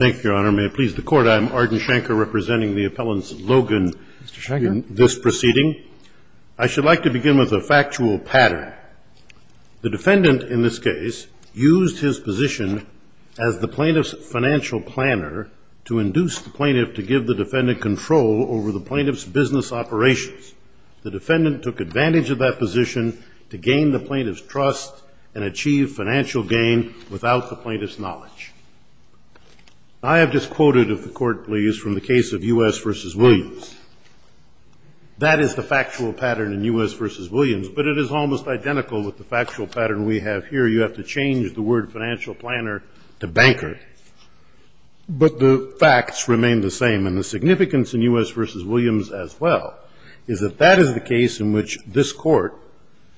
Thank you, Your Honor. May it please the Court, I'm Arden Shanker, representing the appellants Logan in this proceeding. I should like to begin with a factual pattern. The defendant, in this case, used his position as the plaintiff's financial planner to induce the plaintiff to give the defendant control over the plaintiff's business operations. The defendant took advantage of that position to gain the plaintiff's trust and achieve financial gain without the plaintiff's knowledge. I have disquoted, if the Court please, from the case of U.S. v. Williams. That is the factual pattern in U.S. v. Williams, but it is almost identical with the factual pattern we have here. You have to change the word financial planner to banker, but the facts remain the same. And the significance in U.S. v. Williams, as well, is that that is the case in which this Court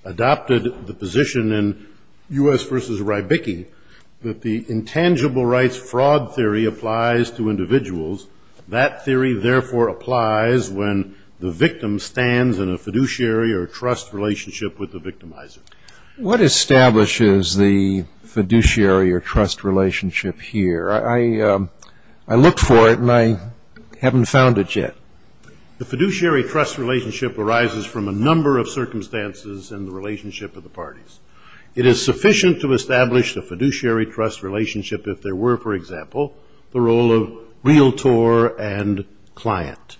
adopted the position in U.S. v. Rybicki that the intangible rights fraud theory applies to individuals. That theory, therefore, applies when the victim stands in a fiduciary or trust relationship with the victimizer. What establishes the fiduciary or trust relationship here? I looked for it, and I haven't found it yet. The fiduciary trust relationship arises from a number of circumstances in the relationship of the parties. It is sufficient to establish the fiduciary trust relationship if there were, for example, the role of realtor and client.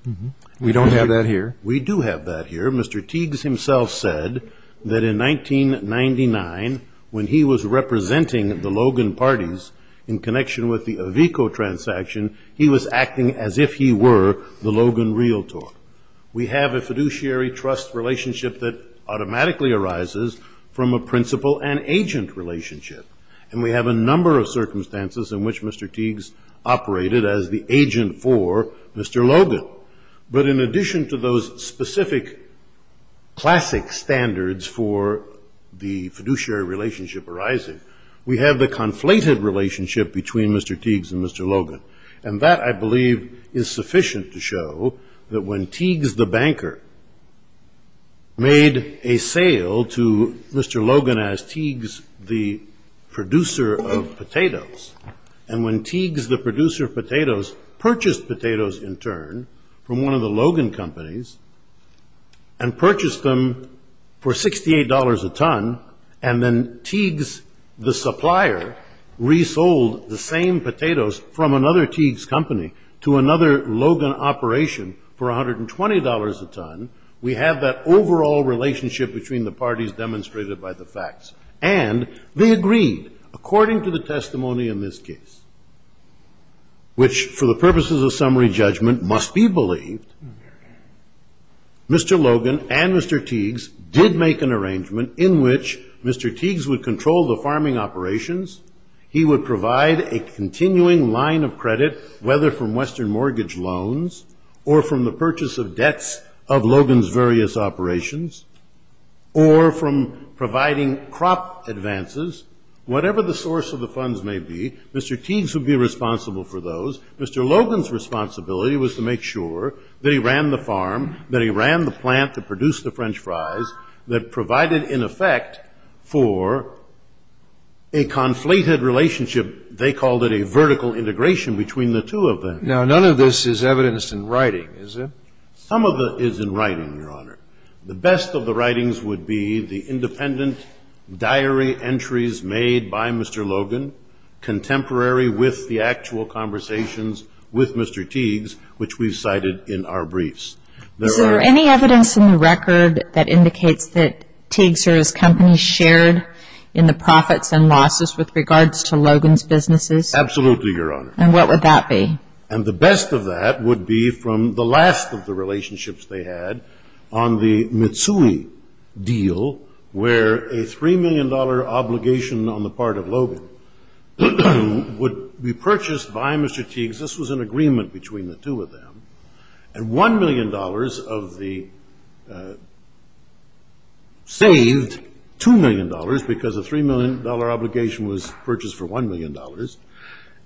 We don't have that here. We do have that here. Mr. Teagues himself said that in 1999, when he was representing the Logan parties in connection with the Avico transaction, he was acting as if he were the Logan realtor. We have a fiduciary trust relationship that automatically arises from a principal and agent relationship. And we have a number of circumstances in which Mr. Teagues operated as the agent for Mr. Logan. But in addition to those specific classic standards for the fiduciary relationship arising, we have the conflated relationship between Mr. Teagues and Mr. Logan. And that, I believe, is sufficient to show that when Teagues the banker made a sale to Mr. Logan as Teagues the producer of potatoes, and when Teagues the producer of potatoes purchased potatoes in turn from one of the Logan companies and purchased them for $68 a ton, and then Teagues the supplier resold the same potatoes from another Teagues company to another Logan operation for $120 a ton, we have that overall relationship between the parties demonstrated by the facts. And they agreed, according to the testimony in this case, which, for the purposes of summary judgment, must be believed. Mr. Logan and Mr. Teagues did make an arrangement in which Mr. Teagues would control the farming operations. He would provide a continuing line of credit, whether from Western Mortgage Loans, or from the purchase of debts of Logan's various operations, or from providing crop advances. Whatever the source of the funds may be, Mr. Teagues would be responsible for those. Mr. Logan's responsibility was to make sure that he ran the farm, that he ran the plant to produce the French fries, that provided, in effect, for a conflated relationship. They called it a vertical integration between the two of them. Now, none of this is evidenced in writing, is it? Some of it is in writing, Your Honor. The best of the writings would be the independent diary entries made by Mr. Logan, contemporary with the actual conversations with Mr. Teagues, which we've cited in our briefs. Is there any evidence in the record that indicates that Teagues or his company shared in the profits and losses with regards to Logan's businesses? Absolutely, Your Honor. And what would that be? And the best of that would be from the last of the relationships they had on the Mitsui deal, where a $3 million obligation on the part of Logan would be purchased by Mr. Teagues. This was an agreement between the two of them. And $1 million of the, saved $2 million because a $3 million obligation was purchased for $1 million.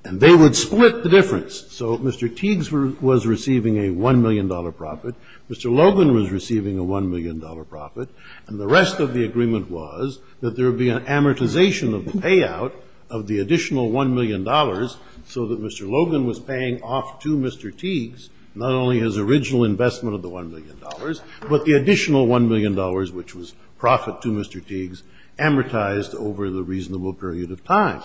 And they would split the difference. So Mr. Teagues was receiving a $1 million profit. Mr. Logan was receiving a $1 million profit. And the rest of the agreement was that there would be an amortization of the payout of the additional $1 million so that Mr. Logan was paying off to Mr. Teagues not only his original investment of the $1 million, but the additional $1 million, which was profit to Mr. Teagues, amortized over the reasonable period of time.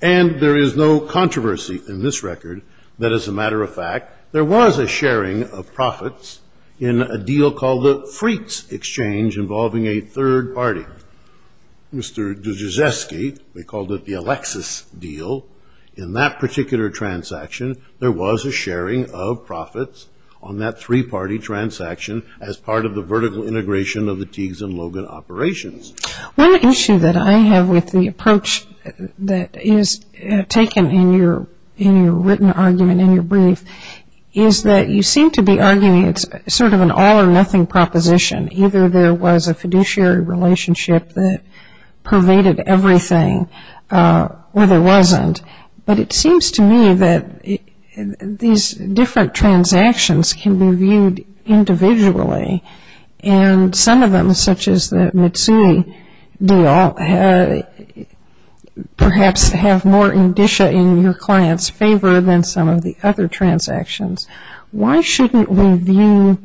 And there is no controversy in this record that, as a matter of fact, there was a sharing of profits in a deal called the Freets Exchange involving a third party. Mr. Dziedzewski, they called it the Alexis deal. In that particular transaction, there was a sharing of profits on that three-party transaction as part of the vertical integration of the Teagues and Logan operations. One issue that I have with the approach that is taken in your written argument, in your brief, is that you seem to be arguing it's sort of an all-or-nothing proposition. Either there was a fiduciary relationship that pervaded everything or there wasn't. But it seems to me that these different transactions can be viewed individually. And some of them, such as the Mitsui deal, perhaps have more indicia in your client's favor than some of the other transactions. Why shouldn't we view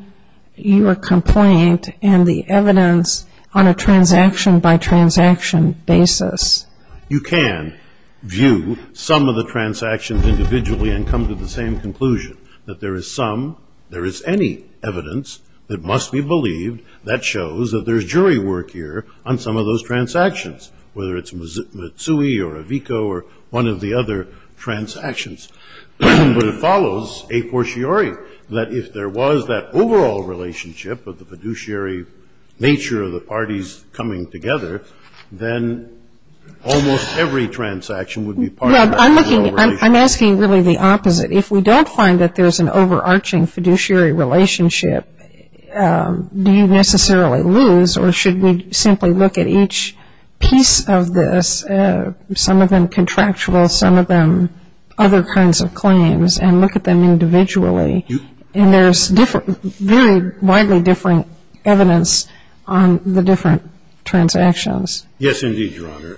your complaint and the evidence on a transaction-by-transaction basis? You can view some of the transactions individually and come to the same conclusion, that there is some, there is any evidence that must be believed that shows that there's jury work here on some of those transactions, whether it's Mitsui or Avico or one of the other transactions. But it follows a fortiori that if there was that overall relationship of the fiduciary nature of the parties coming together, then almost every transaction would be part of that. I'm looking, I'm asking really the opposite. If we don't find that there's an overarching fiduciary relationship, do you necessarily lose or should we simply look at each piece of this, some of them contractual, some of them other kinds of claims, and look at them individually? And there's very widely different evidence on the different transactions. Yes, indeed, Your Honor.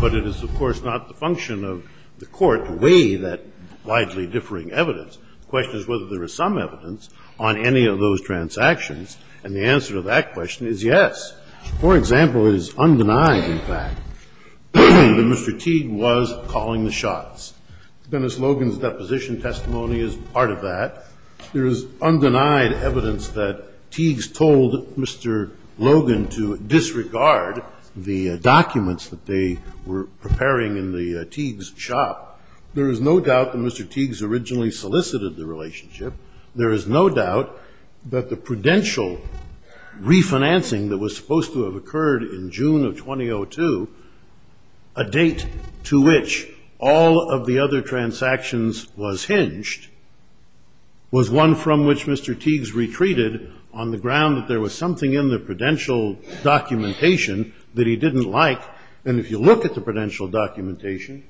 But it is, of course, not the function of the court to weigh that widely differing evidence. The question is whether there is some evidence on any of those transactions, and the answer to that question is yes. For example, it is undenied, in fact, that Mr. Teague was calling the shots. Dennis Logan's deposition testimony is part of that. There is undenied evidence that Teague's told Mr. Logan to disregard the documents that they were preparing in the Teague's shop. There is no doubt that Mr. Teague's originally solicited the relationship. There is no doubt that the prudential refinancing that was supposed to have occurred in June of 2002, a date to which all of the other transactions was hinged, was one from which Mr. Teague's retreated on the ground that there was something in the prudential documentation that he didn't like. And if you look at the prudential documentation,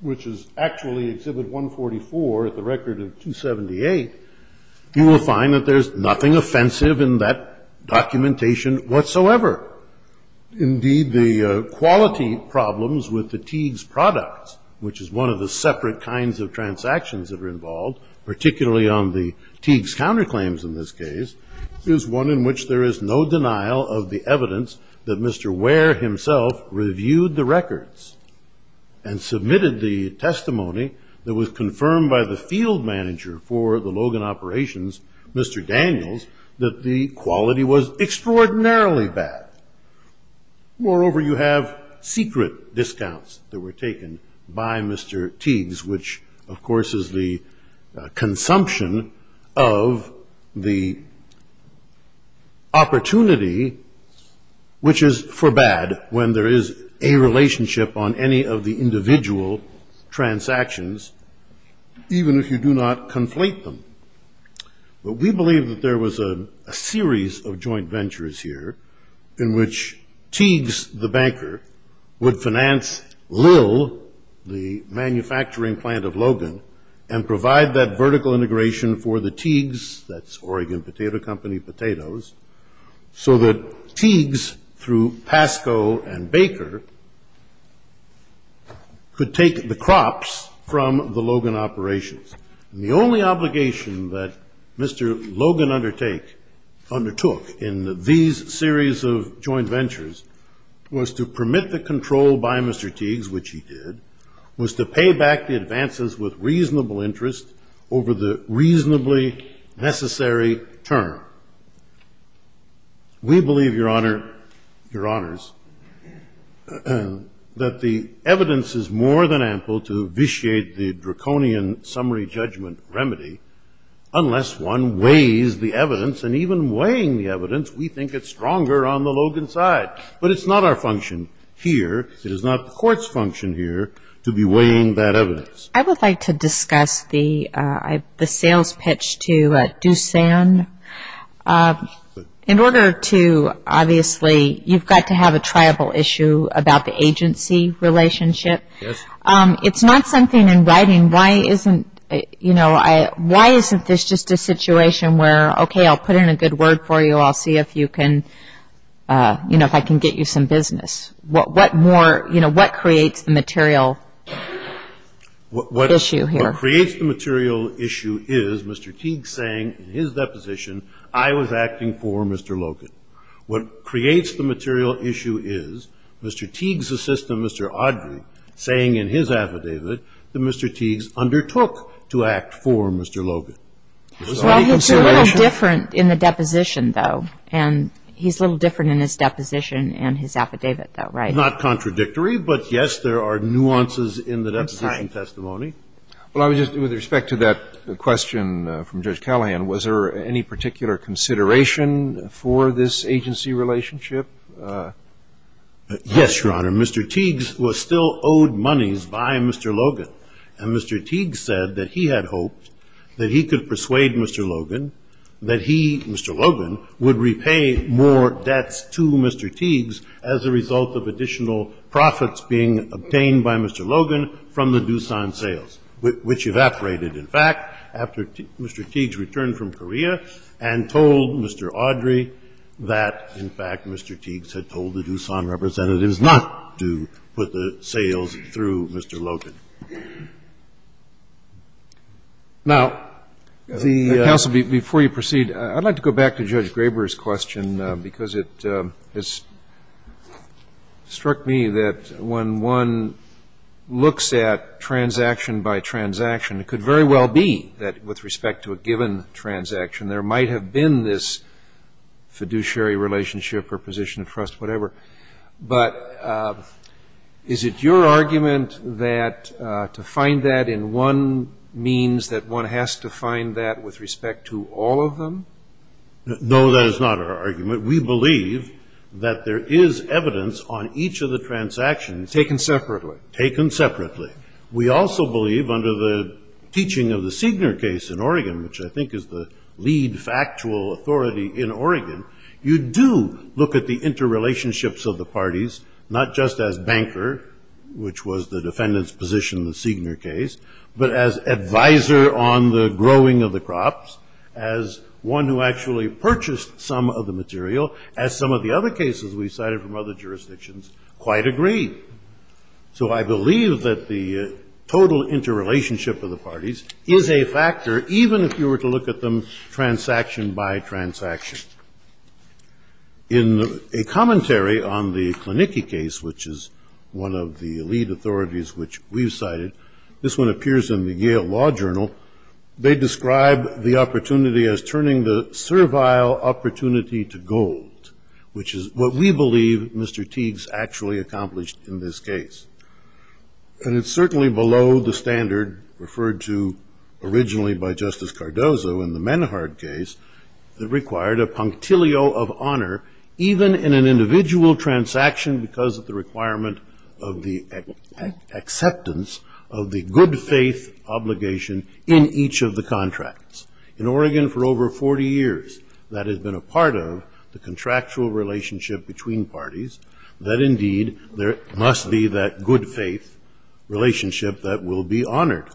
which is actually Exhibit 144 at the record of 278, you will find that there's nothing offensive in that documentation whatsoever. Indeed, the quality problems with the Teague's products, which is one of the separate kinds of transactions that are involved, particularly on the Teague's counterclaims in this case, is one in which there is no denial of the evidence that Mr. Ware himself reviewed the records and submitted the testimony that was confirmed by the field manager for the Logan operations, Mr. Daniels, that the quality was extraordinarily bad. Moreover, you have secret discounts that were taken by Mr. Teague's, which, of course, is the consumption of the opportunity, which is for bad when there is a relationship on any of the individual transactions, even if you do not conflate them. But we believe that there was a series of joint ventures here in which Teague's, the banker, would finance Lill, the manufacturing plant of Logan, and provide that vertical integration for the Teague's, that's Oregon Potato Company Potatoes, so that Teague's through Pasco and Baker could take the crops from the Logan operations. And the only obligation that Mr. Logan undertook in these series of joint ventures was to permit the control by Mr. Teague's, which he did, was to pay back the advances with reasonable interest over the reasonably necessary term. We believe, Your Honor, Your Honors, that the evidence is more than ample to vitiate the draconian summary judgment remedy unless one weighs the evidence, and even weighing the evidence, we think it's stronger on the Logan side. But it's not our function here, it is not the court's function here, to be weighing that evidence. I would like to discuss the sales pitch to Doosan. In order to, obviously, you've got to have a triable issue about the agency relationship. It's not something in writing, why isn't this just a situation where, OK, I'll put in a good word for you, I'll see if I can get you some business. What creates the material issue here? What creates the material issue is Mr. Teague saying in his deposition, I was acting for Mr. Logan. What creates the material issue is Mr. Teague's assistant, Mr. Audrey, saying in his affidavit that Mr. Teague undertook to act for Mr. Logan. Well, he's a little different in the deposition, though, and he's a little different in his deposition and his affidavit, though, right? Not contradictory, but yes, there are nuances in the deposition testimony. Well, I was just, with respect to that question from Judge Callahan, was there any particular consideration for this agency relationship? Yes, Your Honor. Mr. Teague was still owed monies by Mr. Logan, and Mr. Teague said that he had hoped that he could persuade Mr. Logan that he, Mr. Logan, would repay more debts to Mr. Teagues as a result of additional profits being obtained by Mr. Logan from the Doosan sales, which evaporated, in fact, after Mr. Teagues returned from Korea and told Mr. Audrey that, in fact, Mr. Teagues had told the Doosan representatives not to put the sales through Mr. Logan. Now, counsel, before you proceed, I'd like to go back to Judge Graber's question because it struck me that when one looks at transaction by transaction, it could very well be that, with respect to a given transaction, there might have been this fiduciary relationship or position of trust, whatever. But is it your argument that to find that in one means that one has to find that with respect to all of them? No, that is not our argument. We believe that there is evidence on each of the transactions. Taken separately. Taken separately. We also believe, under the teaching of the Signor case in Oregon, which I think is the factual authority in Oregon, you do look at the interrelationships of the parties, not just as banker, which was the defendant's position in the Signor case, but as advisor on the growing of the crops, as one who actually purchased some of the material, as some of the other cases we cited from other jurisdictions quite agree. So I believe that the total interrelationship of the parties is a factor, even if you were to look at them transaction by transaction. In a commentary on the Klinicki case, which is one of the lead authorities which we've cited, this one appears in the Yale Law Journal, they describe the opportunity as turning the servile opportunity to gold, which is what we believe Mr. Teague's actually accomplished in this case. And it's certainly below the standard referred to originally by Justice Cardozo in the Menhard case that required a punctilio of honor, even in an individual transaction because of the requirement of the acceptance of the good faith obligation in each of the contracts. In Oregon, for over 40 years, that has been a part of the contractual relationship between parties, that indeed there must be that good faith relationship that will be honored.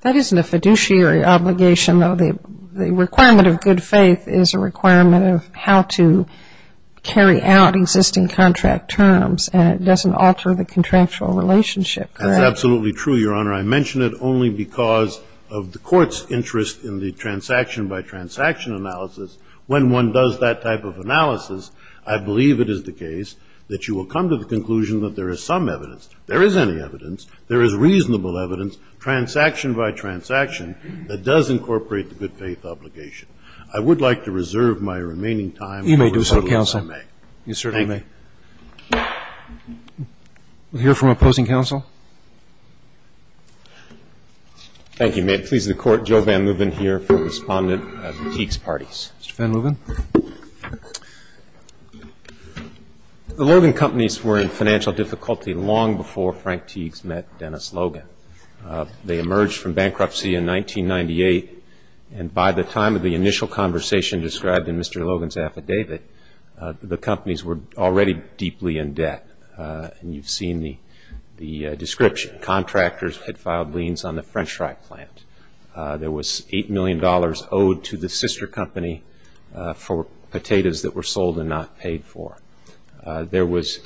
That isn't a fiduciary obligation, though. The requirement of good faith is a requirement of how to carry out existing contract terms, and it doesn't alter the contractual relationship, correct? That's absolutely true, Your Honor. I mention it only because of the court's interest in the transaction by transaction analysis. When one does that type of analysis, I believe it is the case that you will come to the conclusion that there is some evidence, there is any evidence, there is reasonable evidence, transaction by transaction, that does incorporate the good faith obligation. I would like to reserve my remaining time. You may do so, counsel. You certainly may. We'll hear from opposing counsel. Thank you, ma'am. Please, the court. Joe Van Leeuwen here for the respondent of Teague's parties. Mr. Van Leeuwen. The Logan companies were in financial difficulty long before Frank Teague's met Dennis Logan. They emerged from bankruptcy in 1998, and by the time of the initial conversation described in Mr. Logan's affidavit, the companies were already deeply in debt. And you've seen the description. Contractors had filed liens on the French fry plant. There was $8 million owed to the sister company for potatoes that were sold and not paid for. There was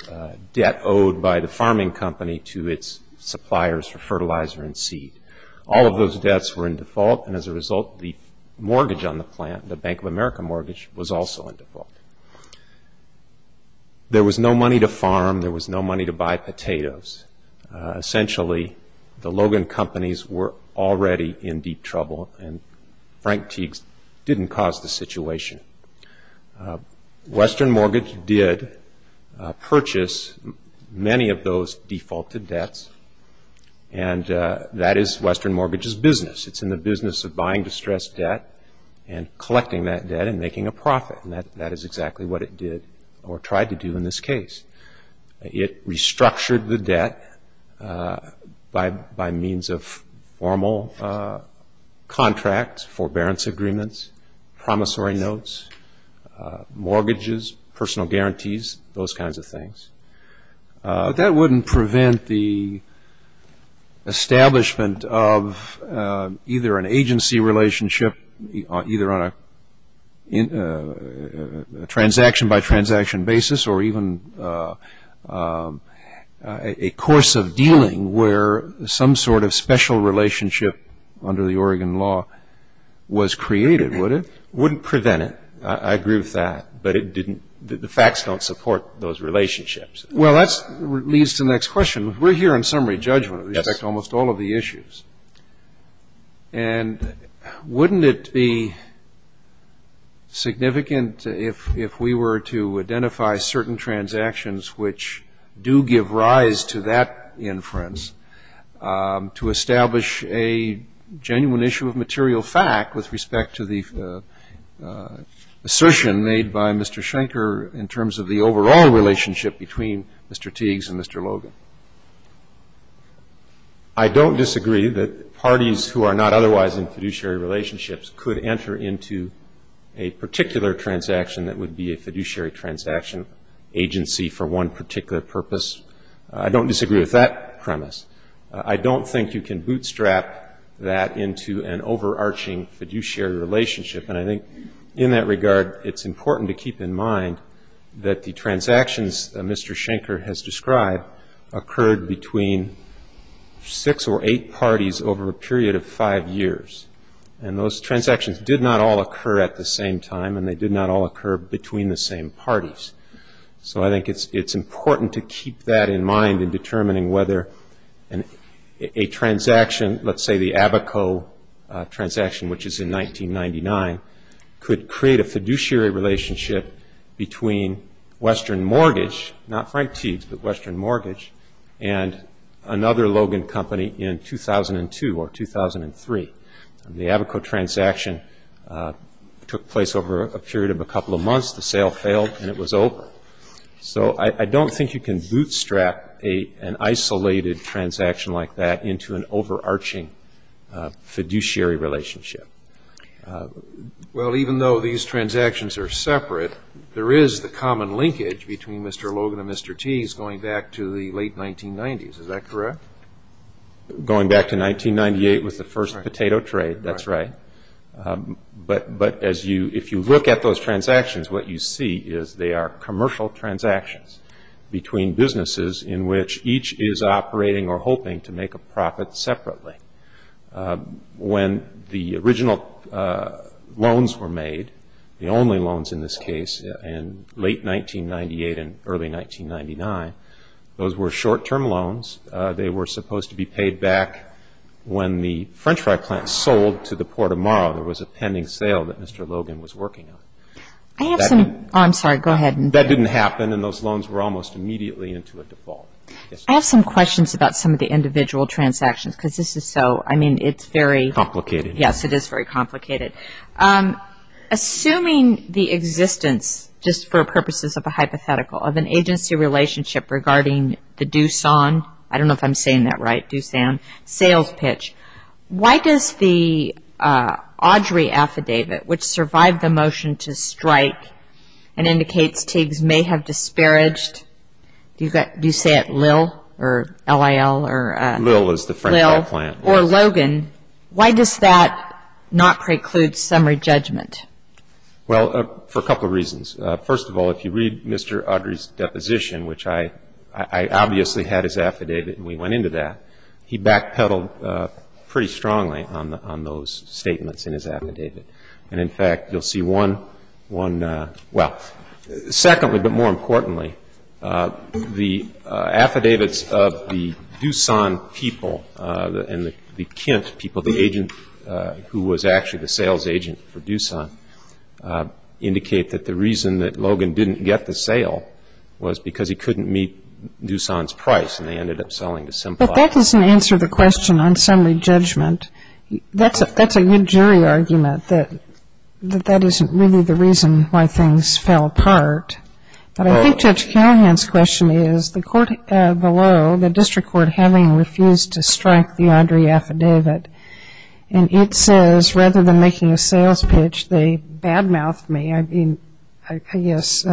debt owed by the farming company to its suppliers for fertilizer and seed. All of those debts were in default, and as a result, the mortgage on the plant, the Bank of America mortgage, was also in default. There was no money to farm. There was no money to buy potatoes. Essentially, the Logan companies were already in deep trouble, and Frank Teague's didn't cause the situation. Western Mortgage did purchase many of those defaulted debts, and that is Western Mortgage's business. It's in the business of buying distressed debt and collecting that debt and making a profit, and that is exactly what it did or tried to do in this case. It restructured the debt by means of formal contracts, forbearance agreements, promissory notes, mortgages, personal guarantees, those kinds of things. That wouldn't prevent the establishment of either an agency relationship, either on a transaction-by-transaction basis, or even a course of dealing where some sort of special relationship under the Oregon law was created, would it? Wouldn't prevent it. I agree with that, but the facts don't support those relationships. Well, that leads to the next question. We're here on summary judgment of almost all of the issues, and wouldn't it be significant if we were to identify certain transactions which do give rise to that inference to establish a genuine issue of material fact with respect to the assertion made by Mr. Schenker in terms of the overall relationship between Mr. Teague's and Mr. Logan? I don't disagree that parties who are not otherwise in fiduciary relationships could enter into a particular transaction that would be a fiduciary transaction agency for one particular purpose. I don't disagree with that premise. I don't think you can bootstrap that into an overarching fiduciary relationship, and I think in that regard, it's important to keep in mind that the transactions Mr. Schenker has described occurred between six or eight parties over a period of five years, and those transactions did not all occur at the same time, and they did not all occur between the same parties. So I think it's important to keep that in mind in determining whether a transaction, let's say the Abaco transaction, which is in 1999, could create a fiduciary relationship between Western Mortgage, not Frank Teague's, but Western Mortgage, and another company in 2002 or 2003. The Abaco transaction took place over a period of a couple of months. The sale failed, and it was over. So I don't think you can bootstrap an isolated transaction like that into an overarching fiduciary relationship. Well, even though these transactions are separate, there is the common linkage between Mr. Logan and Mr. Teague's going back to the late 1990s. Is that correct? Going back to 1998 was the first potato trade. That's right. But if you look at those transactions, what you see is they are commercial transactions between businesses in which each is operating or hoping to make a profit separately. When the original loans were made, the only loans in this case in late 1998 and early 1999, those were short-term loans. They were supposed to be paid back when the French fry plant sold to the Port of Morrow. There was a pending sale that Mr. Logan was working on. I have some... Oh, I'm sorry. Go ahead. That didn't happen, and those loans were almost immediately into a default. I have some questions about some of the individual transactions, because this is so... I mean, it's very... Complicated. Yes, it is very complicated. Assuming the existence, just for purposes of a hypothetical, of an agency relationship regarding the Doosan, I don't know if I'm saying that right, Doosan sales pitch, why does the Audrey affidavit, which survived the motion to strike and indicates Teagues may have disparaged, do you say it Lil or L-I-L or... Lil is the French fry plant. Or Logan. Why does that not preclude summary judgment? Well, for a couple of reasons. First of all, if you read Mr. Audrey's deposition, which I obviously had his affidavit and we went into that, he backpedaled pretty strongly on those statements in his affidavit. And in fact, you'll see one, well, secondly, but more importantly, the affidavits of the Doosan people and the Kent people, the agent who was actually the sales agent for Doosan, indicate that the reason that Logan didn't get the sale was because he couldn't meet Doosan's price and they ended up selling to Simplot. But that doesn't answer the question on summary judgment. That's a good jury argument, that that isn't really the reason why things fell apart. But I think Judge Callahan's question is, the court below, the district court, having refused to strike the Audrey affidavit, and it says rather than making a sales pitch, they bad-mouthed me. I mean, I guess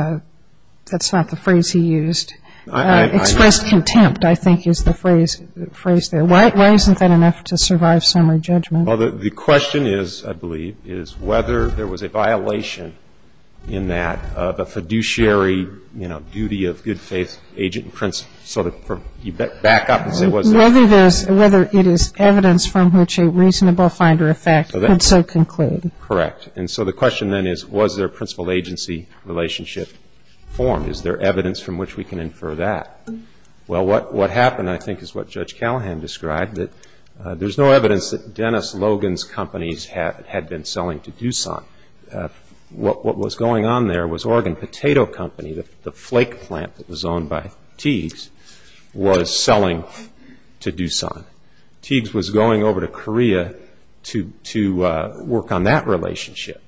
that's not the phrase he used. Expressed contempt, I think, is the phrase there. Why isn't that enough to survive summary judgment? The question is, I believe, is whether there was a violation in that of a fiduciary duty of good faith agent principle. So you back up and say, was there? Whether it is evidence from which a reasonable finder of fact could so conclude. Correct. And so the question then is, was there a principal agency relationship formed? Is there evidence from which we can infer that? Well, what happened, I think, is what Judge Callahan described, that there's no evidence that Dennis Logan's companies had been selling to Doosan. What was going on there was Oregon Potato Company, the flake plant that was owned by Teagues, was selling to Doosan. Teagues was going over to Korea to work on that relationship.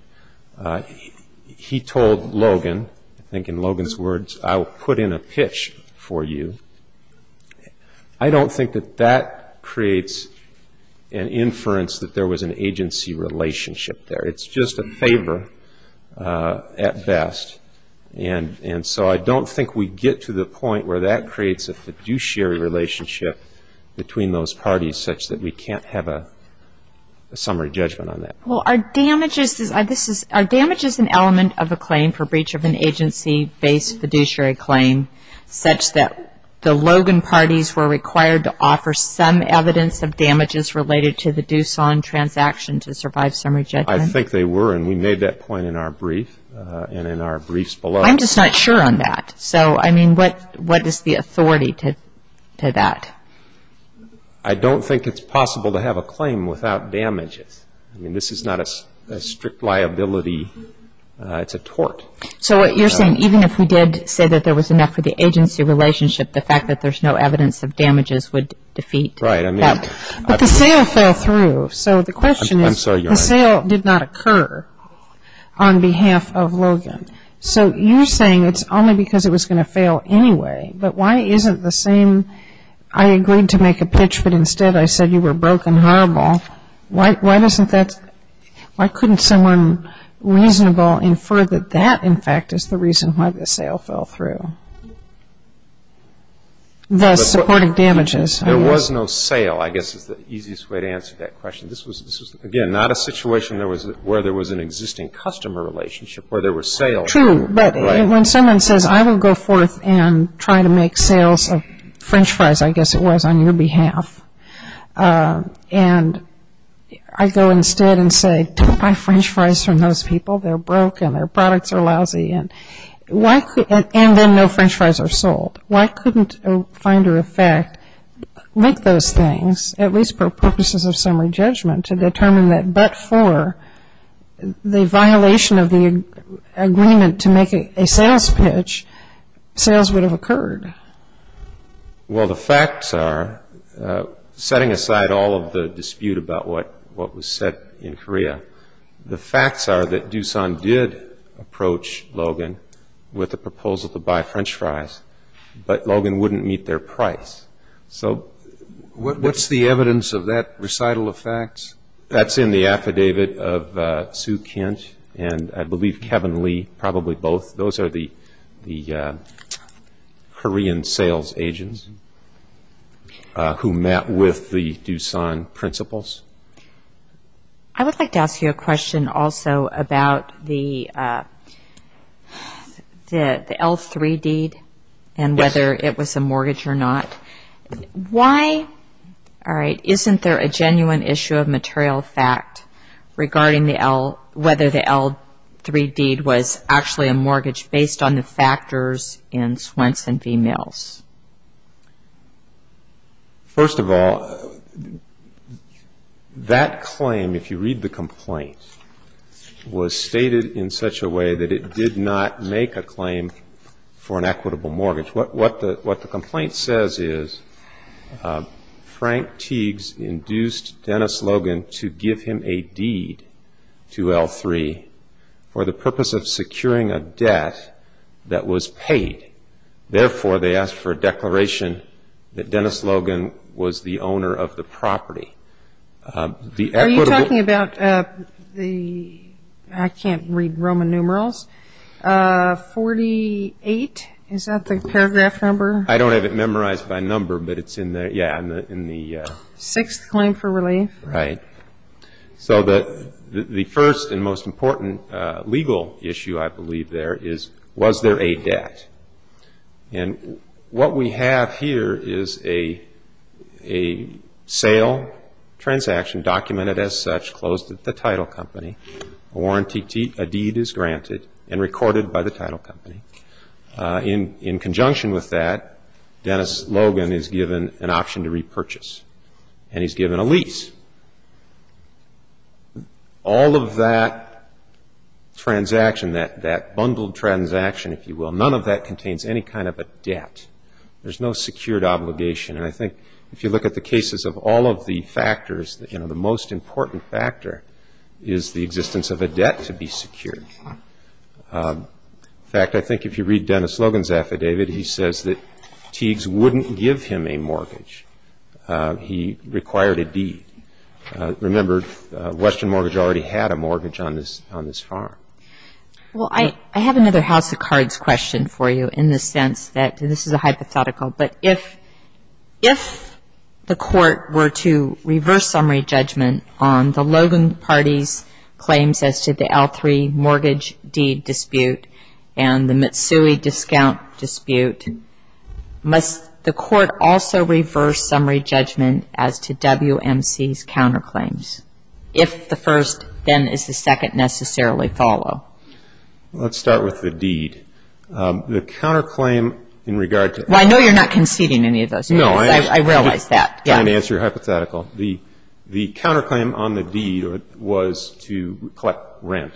He told Logan, I think in Logan's words, I'll put in a pitch for you. I don't think that that creates an inference that there was an agency relationship there. It's just a favor at best. And so I don't think we get to the point where that creates a fiduciary relationship between those parties such that we can't have a summary judgment on that. Well, are damages, this is, are damages an element of a claim for breach of an agency-based The Logan parties were required to offer some evidence of damages related to the Doosan transaction to survive summary judgment? I think they were, and we made that point in our brief, and in our briefs below. I'm just not sure on that. So, I mean, what is the authority to that? I don't think it's possible to have a claim without damages. I mean, this is not a strict liability. It's a tort. So what you're saying, even if we did say that there was enough for the agency relationship, the fact that there's no evidence of damages would defeat that. Right, I mean. But the sale fell through. So the question is, the sale did not occur on behalf of Logan. So you're saying it's only because it was going to fail anyway. But why isn't the same, I agreed to make a pitch, but instead I said you were broke and horrible. Why doesn't that, why couldn't someone reasonable infer that that, in fact, is the reason why the sale fell through? The supporting damages. There was no sale, I guess, is the easiest way to answer that question. This was, again, not a situation where there was an existing customer relationship, where there were sales. True, but when someone says, I will go forth and try to make sales of french fries, I guess it was, on your behalf. And I go instead and say, don't buy french fries from those people. They're broke and their products are lousy. And why, and then no french fries are sold. Why couldn't a finder of fact make those things, at least for purposes of summary judgment, to determine that but for the violation of the agreement to make a sales pitch, sales would have occurred? Well, the facts are, setting aside all of the dispute about what was said in Korea, the facts are that Doosan did approach Logan with a proposal to buy french fries. But Logan wouldn't meet their price. So what's the evidence of that recital of facts? That's in the affidavit of Sue Kent and I believe Kevin Lee, probably both. Those are the Korean sales agents who met with the Doosan principals. I would like to ask you a question also about the L3 deed and whether it was a mortgage or not. Why, all right, isn't there a genuine issue of material fact regarding the L, whether the L3 deed was actually a mortgage based on the factors in Swenson v. Mills? First of all, that claim, if you read the complaint, was stated in such a way that it did not make a claim for an equitable mortgage. What the complaint says is Frank Teagues induced Dennis Logan to give him a deed to L3 for the purpose of securing a debt that was paid. Therefore, they asked for a declaration that Dennis Logan was the owner of the property. Are you talking about the, I can't read Roman numerals, 48? Is that the paragraph number? I don't have it memorized by number, but it's in there. Sixth claim for relief. Right. So the first and most important legal issue, I believe, there is was there a debt? And what we have here is a sale transaction documented as such, closed at the title company. A warranty deed is granted and recorded by the title company. In conjunction with that, Dennis Logan is given an option to repurchase and he's given a lease. All of that transaction, that bundled transaction, if you will, none of that contains any kind of a debt. There's no secured obligation. And I think if you look at the cases of all of the factors, you know, the most important factor is the existence of a debt to be secured. In fact, I think if you read Dennis Logan's affidavit, he required a deed. Remember, Western Mortgage already had a mortgage on this farm. Well, I have another house of cards question for you in the sense that this is a hypothetical, but if the court were to reverse summary judgment on the Logan party's claims as to the L3 mortgage deed dispute and the Mitsui discount dispute, must the court also reverse summary judgment as to WMC's counterclaims, if the first then is the second necessarily follow? Let's start with the deed. The counterclaim in regard to... Well, I know you're not conceding any of those. No. I realize that. I'm trying to answer your hypothetical. The counterclaim on the deed was to collect rent.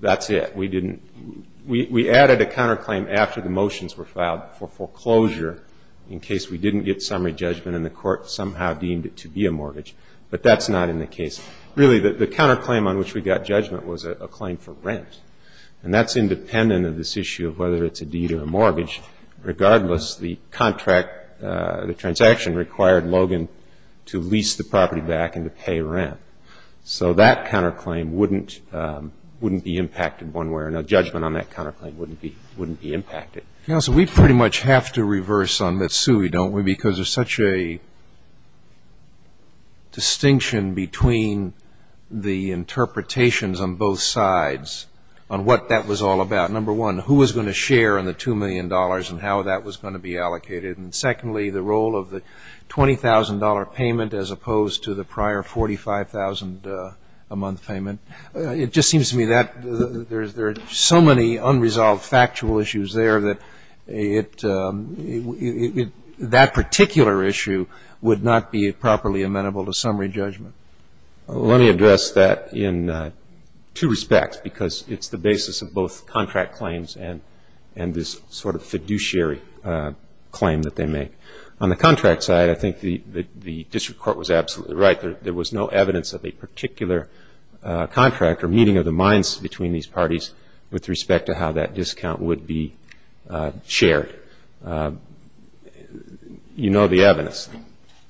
That's it. We added a counterclaim after the motions were filed for foreclosure in case we didn't get summary judgment and the court somehow deemed it to be a mortgage. But that's not in the case. Really, the counterclaim on which we got judgment was a claim for rent. And that's independent of this issue of whether it's a deed or a mortgage. Regardless, the contract, the transaction required Logan to lease the property back and to pay rent. So that counterclaim wouldn't be impacted one way or another. Judgment on that counterclaim wouldn't be impacted. Counsel, we pretty much have to reverse on Mitsui, don't we, because there's such a distinction between the interpretations on both sides on what that was all about. Number one, who was going to share in the $2 million and how that was going to be allocated. And secondly, the role of the $20,000 payment as opposed to the prior $45,000 a month payment. It just seems to me that there are so many unresolved factual issues there that that particular issue would not be properly amenable to summary judgment. Let me address that in two respects. Because it's the basis of both contract claims and this sort of fiduciary claim that they make. On the contract side, I think the district court was absolutely right. There was no evidence of a particular contract or meeting of the minds between these parties with respect to how that discount would be shared. You know the evidence.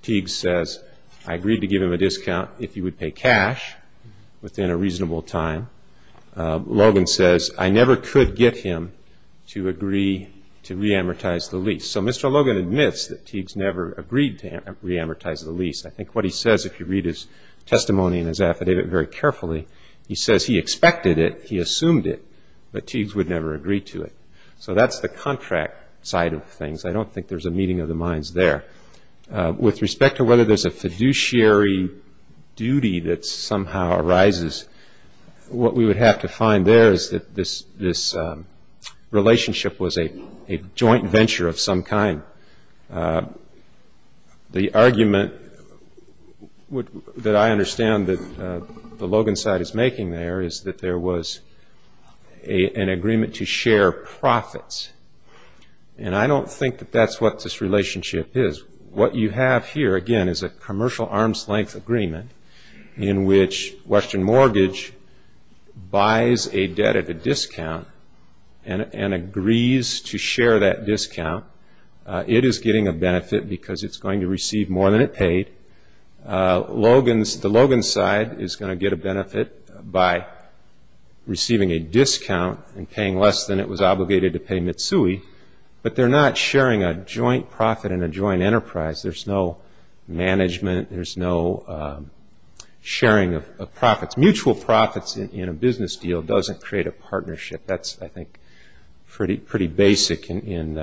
Teagues says, I agreed to give him a discount if he would pay cash within a reasonable time. Logan says, I never could get him to agree to re-amortize the lease. So Mr. Logan admits that Teagues never agreed to re-amortize the lease. I think what he says, if you read his testimony and his affidavit very carefully, he says he expected it, he assumed it, but Teagues would never agree to it. So that's the contract side of things. I don't think there's a meeting of the minds there. With respect to whether there's a fiduciary duty that somehow arises, what we would have to find there is that this relationship was a joint venture of some kind. The argument that I understand that the Logan side is making there is that there was an agreement to share profits. And I don't think that that's what this relationship is. What you have here, again, is a commercial arm's length agreement in which Western Mortgage buys a debt at a discount and agrees to share that discount. It is getting a benefit because it's going to receive more than it paid. The Logan side is going to get a benefit by receiving a discount and paying less than it was obligated to pay Mitsui. But they're not sharing a joint profit and a joint enterprise. There's no management. There's no sharing of profits. Mutual profits in a business deal doesn't create a partnership. That's, I think, pretty basic in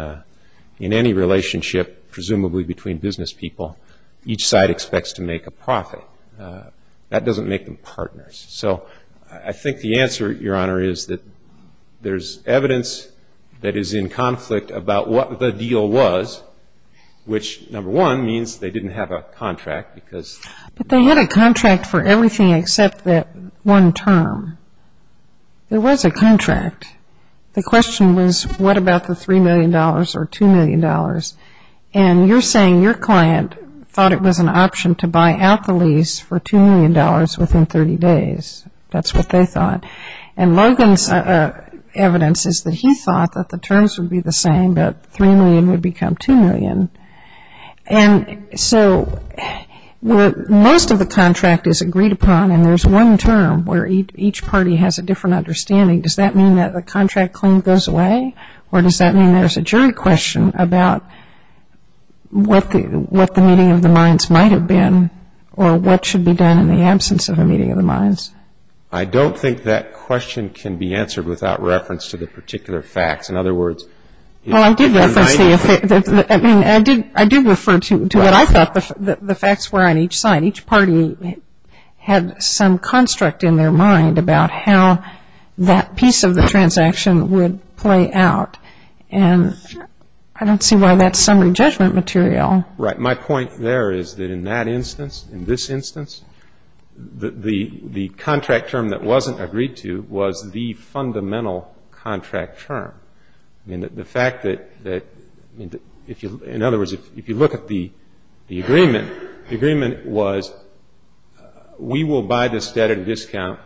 any relationship, presumably between business people. Each side expects to make a profit. That doesn't make them partners. So I think the answer, Your Honor, is that there's evidence that is in conflict about what the deal was, which, number one, means they didn't have a contract. But they had a contract for everything except that one term. There was a contract. The question was, what about the $3 million or $2 million? And you're saying your client thought it was an option to buy out the lease for $2 million within 30 days. That's what they thought. And Logan's evidence is that he thought that the terms would be the same, that $3 million would become $2 million. And so most of the contract is agreed upon, and there's one term where each party has a different understanding. Does that mean that the contract claim goes away? Or does that mean there's a jury question about what the meeting of the minds might have been, or what should be done in the absence of a meeting of the minds? I don't think that question can be answered without reference to the particular facts. In other words, in my mind... Well, I do refer to what I thought the facts were on each side. Each party had some construct in their mind about how that piece of the transaction would play out. And I don't see why that's summary judgment material. Right. My point there is that in that instance, in this instance, the contract term that wasn't agreed to was the fundamental contract term. I mean, the fact that, in other words, if you look at the agreement, the agreement was we will buy this debt at a discount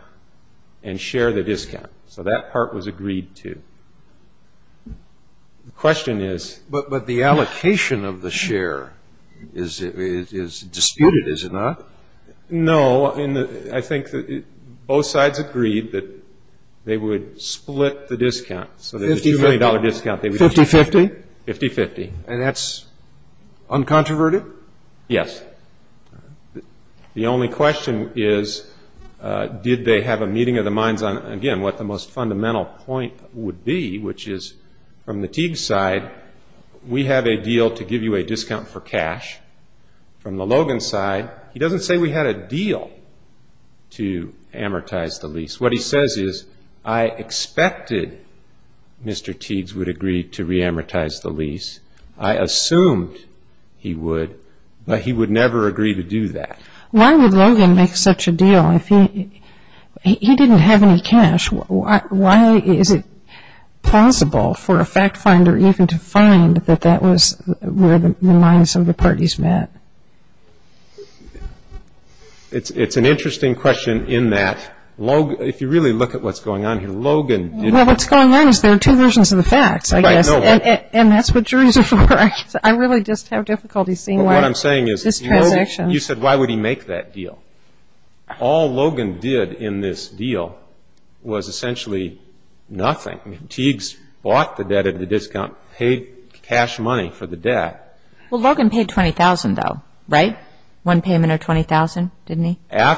and share the discount. So that part was agreed to. The question is... But the allocation of the share is disputed, is it not? No. I mean, I think that both sides agreed that they would split the discount. So there's a $2 million discount. 50-50? 50-50. And that's uncontroverted? Yes. The only question is, did they have a meeting of the minds on, again, what the most fundamental point would be, which is, from the Teague's side, we have a deal to give you a discount for cash. From the Logan's side, he doesn't say we had a deal to amortize the lease. What he says is, I expected Mr. Teague's would agree to re-amortize the lease. I assumed he would, but he would never agree to do that. Why would Logan make such a deal? He didn't have any cash. Why is it possible for a fact finder even to find that that was where the minds of the parties met? It's an interesting question in that, if you really look at what's going on here, Logan did... Well, what's going on is there are two versions of the facts, I guess, and that's what juries are for. I really just have difficulty seeing why this transaction... Well, what I'm saying is, you said, why would he make that deal? All Logan did in this deal was essentially nothing. I mean, Teague's bought the debt at a discount, paid cash money for the debt. Well, Logan paid $20,000, though, right? One payment of $20,000, didn't he? Yeah,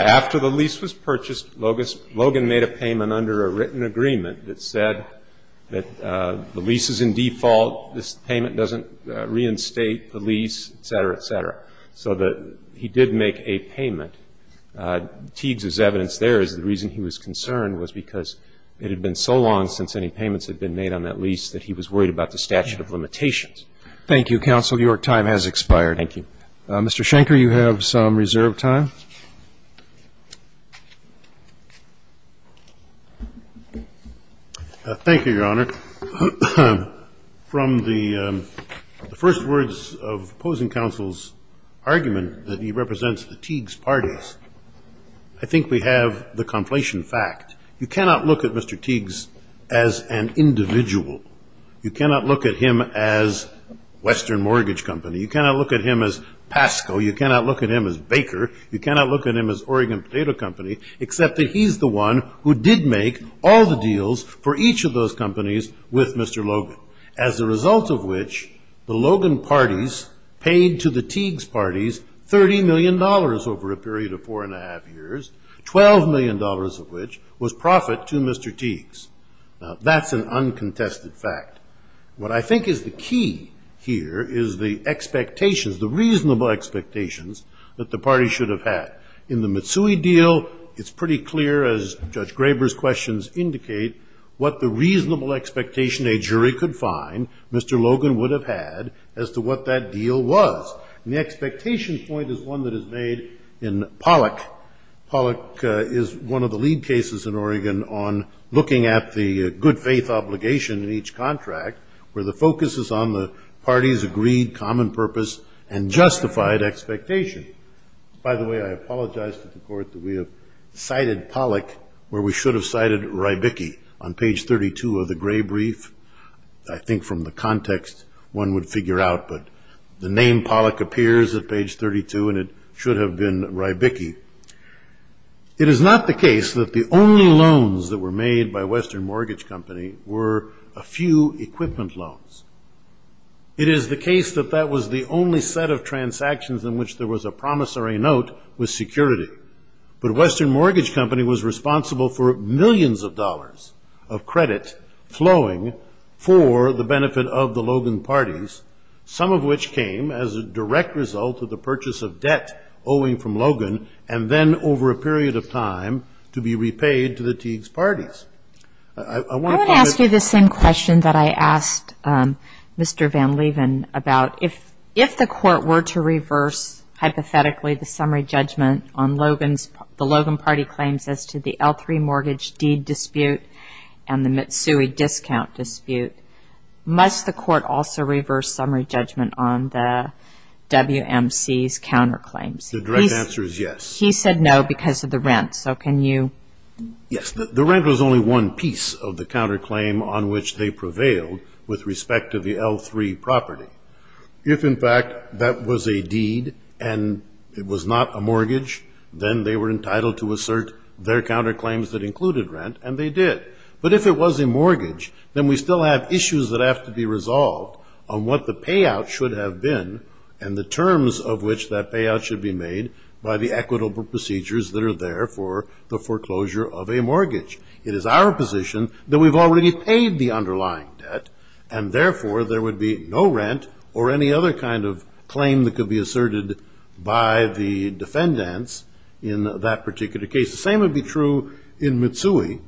after the lease was purchased, Logan made a payment under a written agreement that said that the lease is in default, this payment doesn't reinstate the lease, et cetera, et cetera. So that he did make a payment. Teague's evidence there is the reason he was concerned was because it had been so long since any payments had been made on that lease that he was worried about the statute of limitations. Thank you, counsel. Your time has expired. Thank you. Thank you, Your Honor. So from the first words of opposing counsel's argument that he represents the Teague's parties, I think we have the conflation fact. You cannot look at Mr. Teague's as an individual. You cannot look at him as Western Mortgage Company. You cannot look at him as Pasco. You cannot look at him as Baker. You cannot look at him as Oregon Potato Company, except that he's the one who did make all the deals for each of those companies with Mr. Logan, as a result of which the Logan parties paid to the Teague's parties $30 million over a period of four and a half years, $12 million of which was profit to Mr. Teague's. Now, that's an uncontested fact. What I think is the key here is the expectations, the reasonable expectations that the party should have had. In the Mitsui deal, it's pretty clear, as Judge Graber's questions indicate, what the reasonable expectation a jury could find Mr. Logan would have had as to what that deal was. And the expectation point is one that is made in Pollack. Pollack is one of the lead cases in Oregon on looking at the good faith obligation in each contract, where the focus is on the party's agreed common purpose and justified expectation. By the way, I apologize to the court that we have cited Pollack, where we should have cited Rybicki on page 32 of the Gray Brief. I think from the context, one would figure out, but the name Pollack appears at page 32, and it should have been Rybicki. It is not the case that the only loans that were made by Western Mortgage Company were a few equipment loans. It is the case that that was the only set of transactions in which there was a promissory note with security. But Western Mortgage Company was responsible for millions of dollars of credit flowing for the benefit of the Logan parties, some of which came as a direct result of the purchase of debt owing from Logan, and then over a period of time to be repaid to the Teague's parties. I want to ask you the same question that I asked Mr. Van Leeuwen about, if the court were to reverse, hypothetically, the summary judgment on the Logan party claims as to the L3 Mortgage Deed Dispute and the Mitsui Discount Dispute, must the court also reverse summary judgment on the WMC's counterclaims? The direct answer is yes. He said no because of the rent, so can you? Yes, the rent was only one piece of the counterclaim on which they prevailed with respect to the L3 property. If, in fact, that was a deed and it was not a mortgage, then they were entitled to assert their counterclaims that included rent, and they did. But if it was a mortgage, then we still have issues that have to be resolved on what the payout should have been and the terms of which that payout should be made by the equitable of a mortgage. It is our position that we've already paid the underlying debt, and therefore there would be no rent or any other kind of claim that could be asserted by the defendants in that particular case. The same would be true in Mitsui.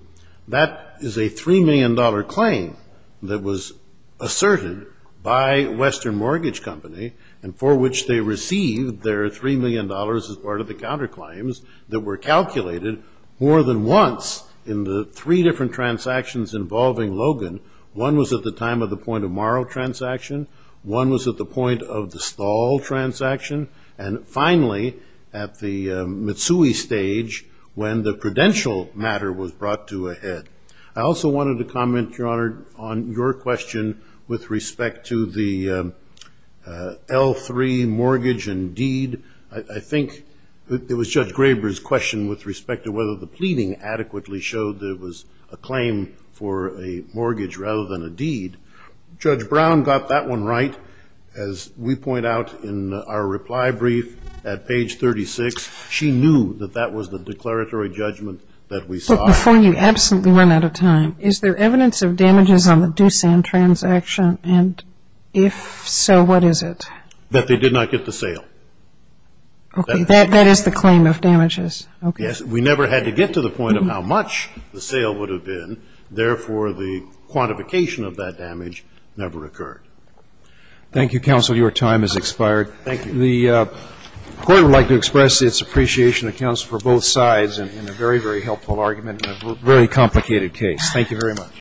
That is a $3 million claim that was asserted by Western Mortgage Company and for which they received their $3 million as part of the counterclaims that were calculated more than once in the three different transactions involving Logan. One was at the time of the point-of-morrow transaction. One was at the point of the stall transaction. And finally, at the Mitsui stage, when the credential matter was brought to a head. I also wanted to comment, Your Honor, on your question with respect to the L3 mortgage and deed. I think it was Judge Graber's question with respect to whether the pleading adequately showed there was a claim for a mortgage rather than a deed. Judge Brown got that one right. As we point out in our reply brief at page 36, she knew that that was the declaratory judgment that we saw. But before you absolutely run out of time, is there evidence of damages on the Doosan transaction? And if so, what is it? That they did not get the sale. Okay. That is the claim of damages. Yes. We never had to get to the point of how much the sale would have been. Therefore, the quantification of that damage never occurred. Thank you, counsel. Your time has expired. Thank you. The court would like to express its appreciation of counsel for both sides in a very, very helpful argument in a very complicated case. Thank you very much.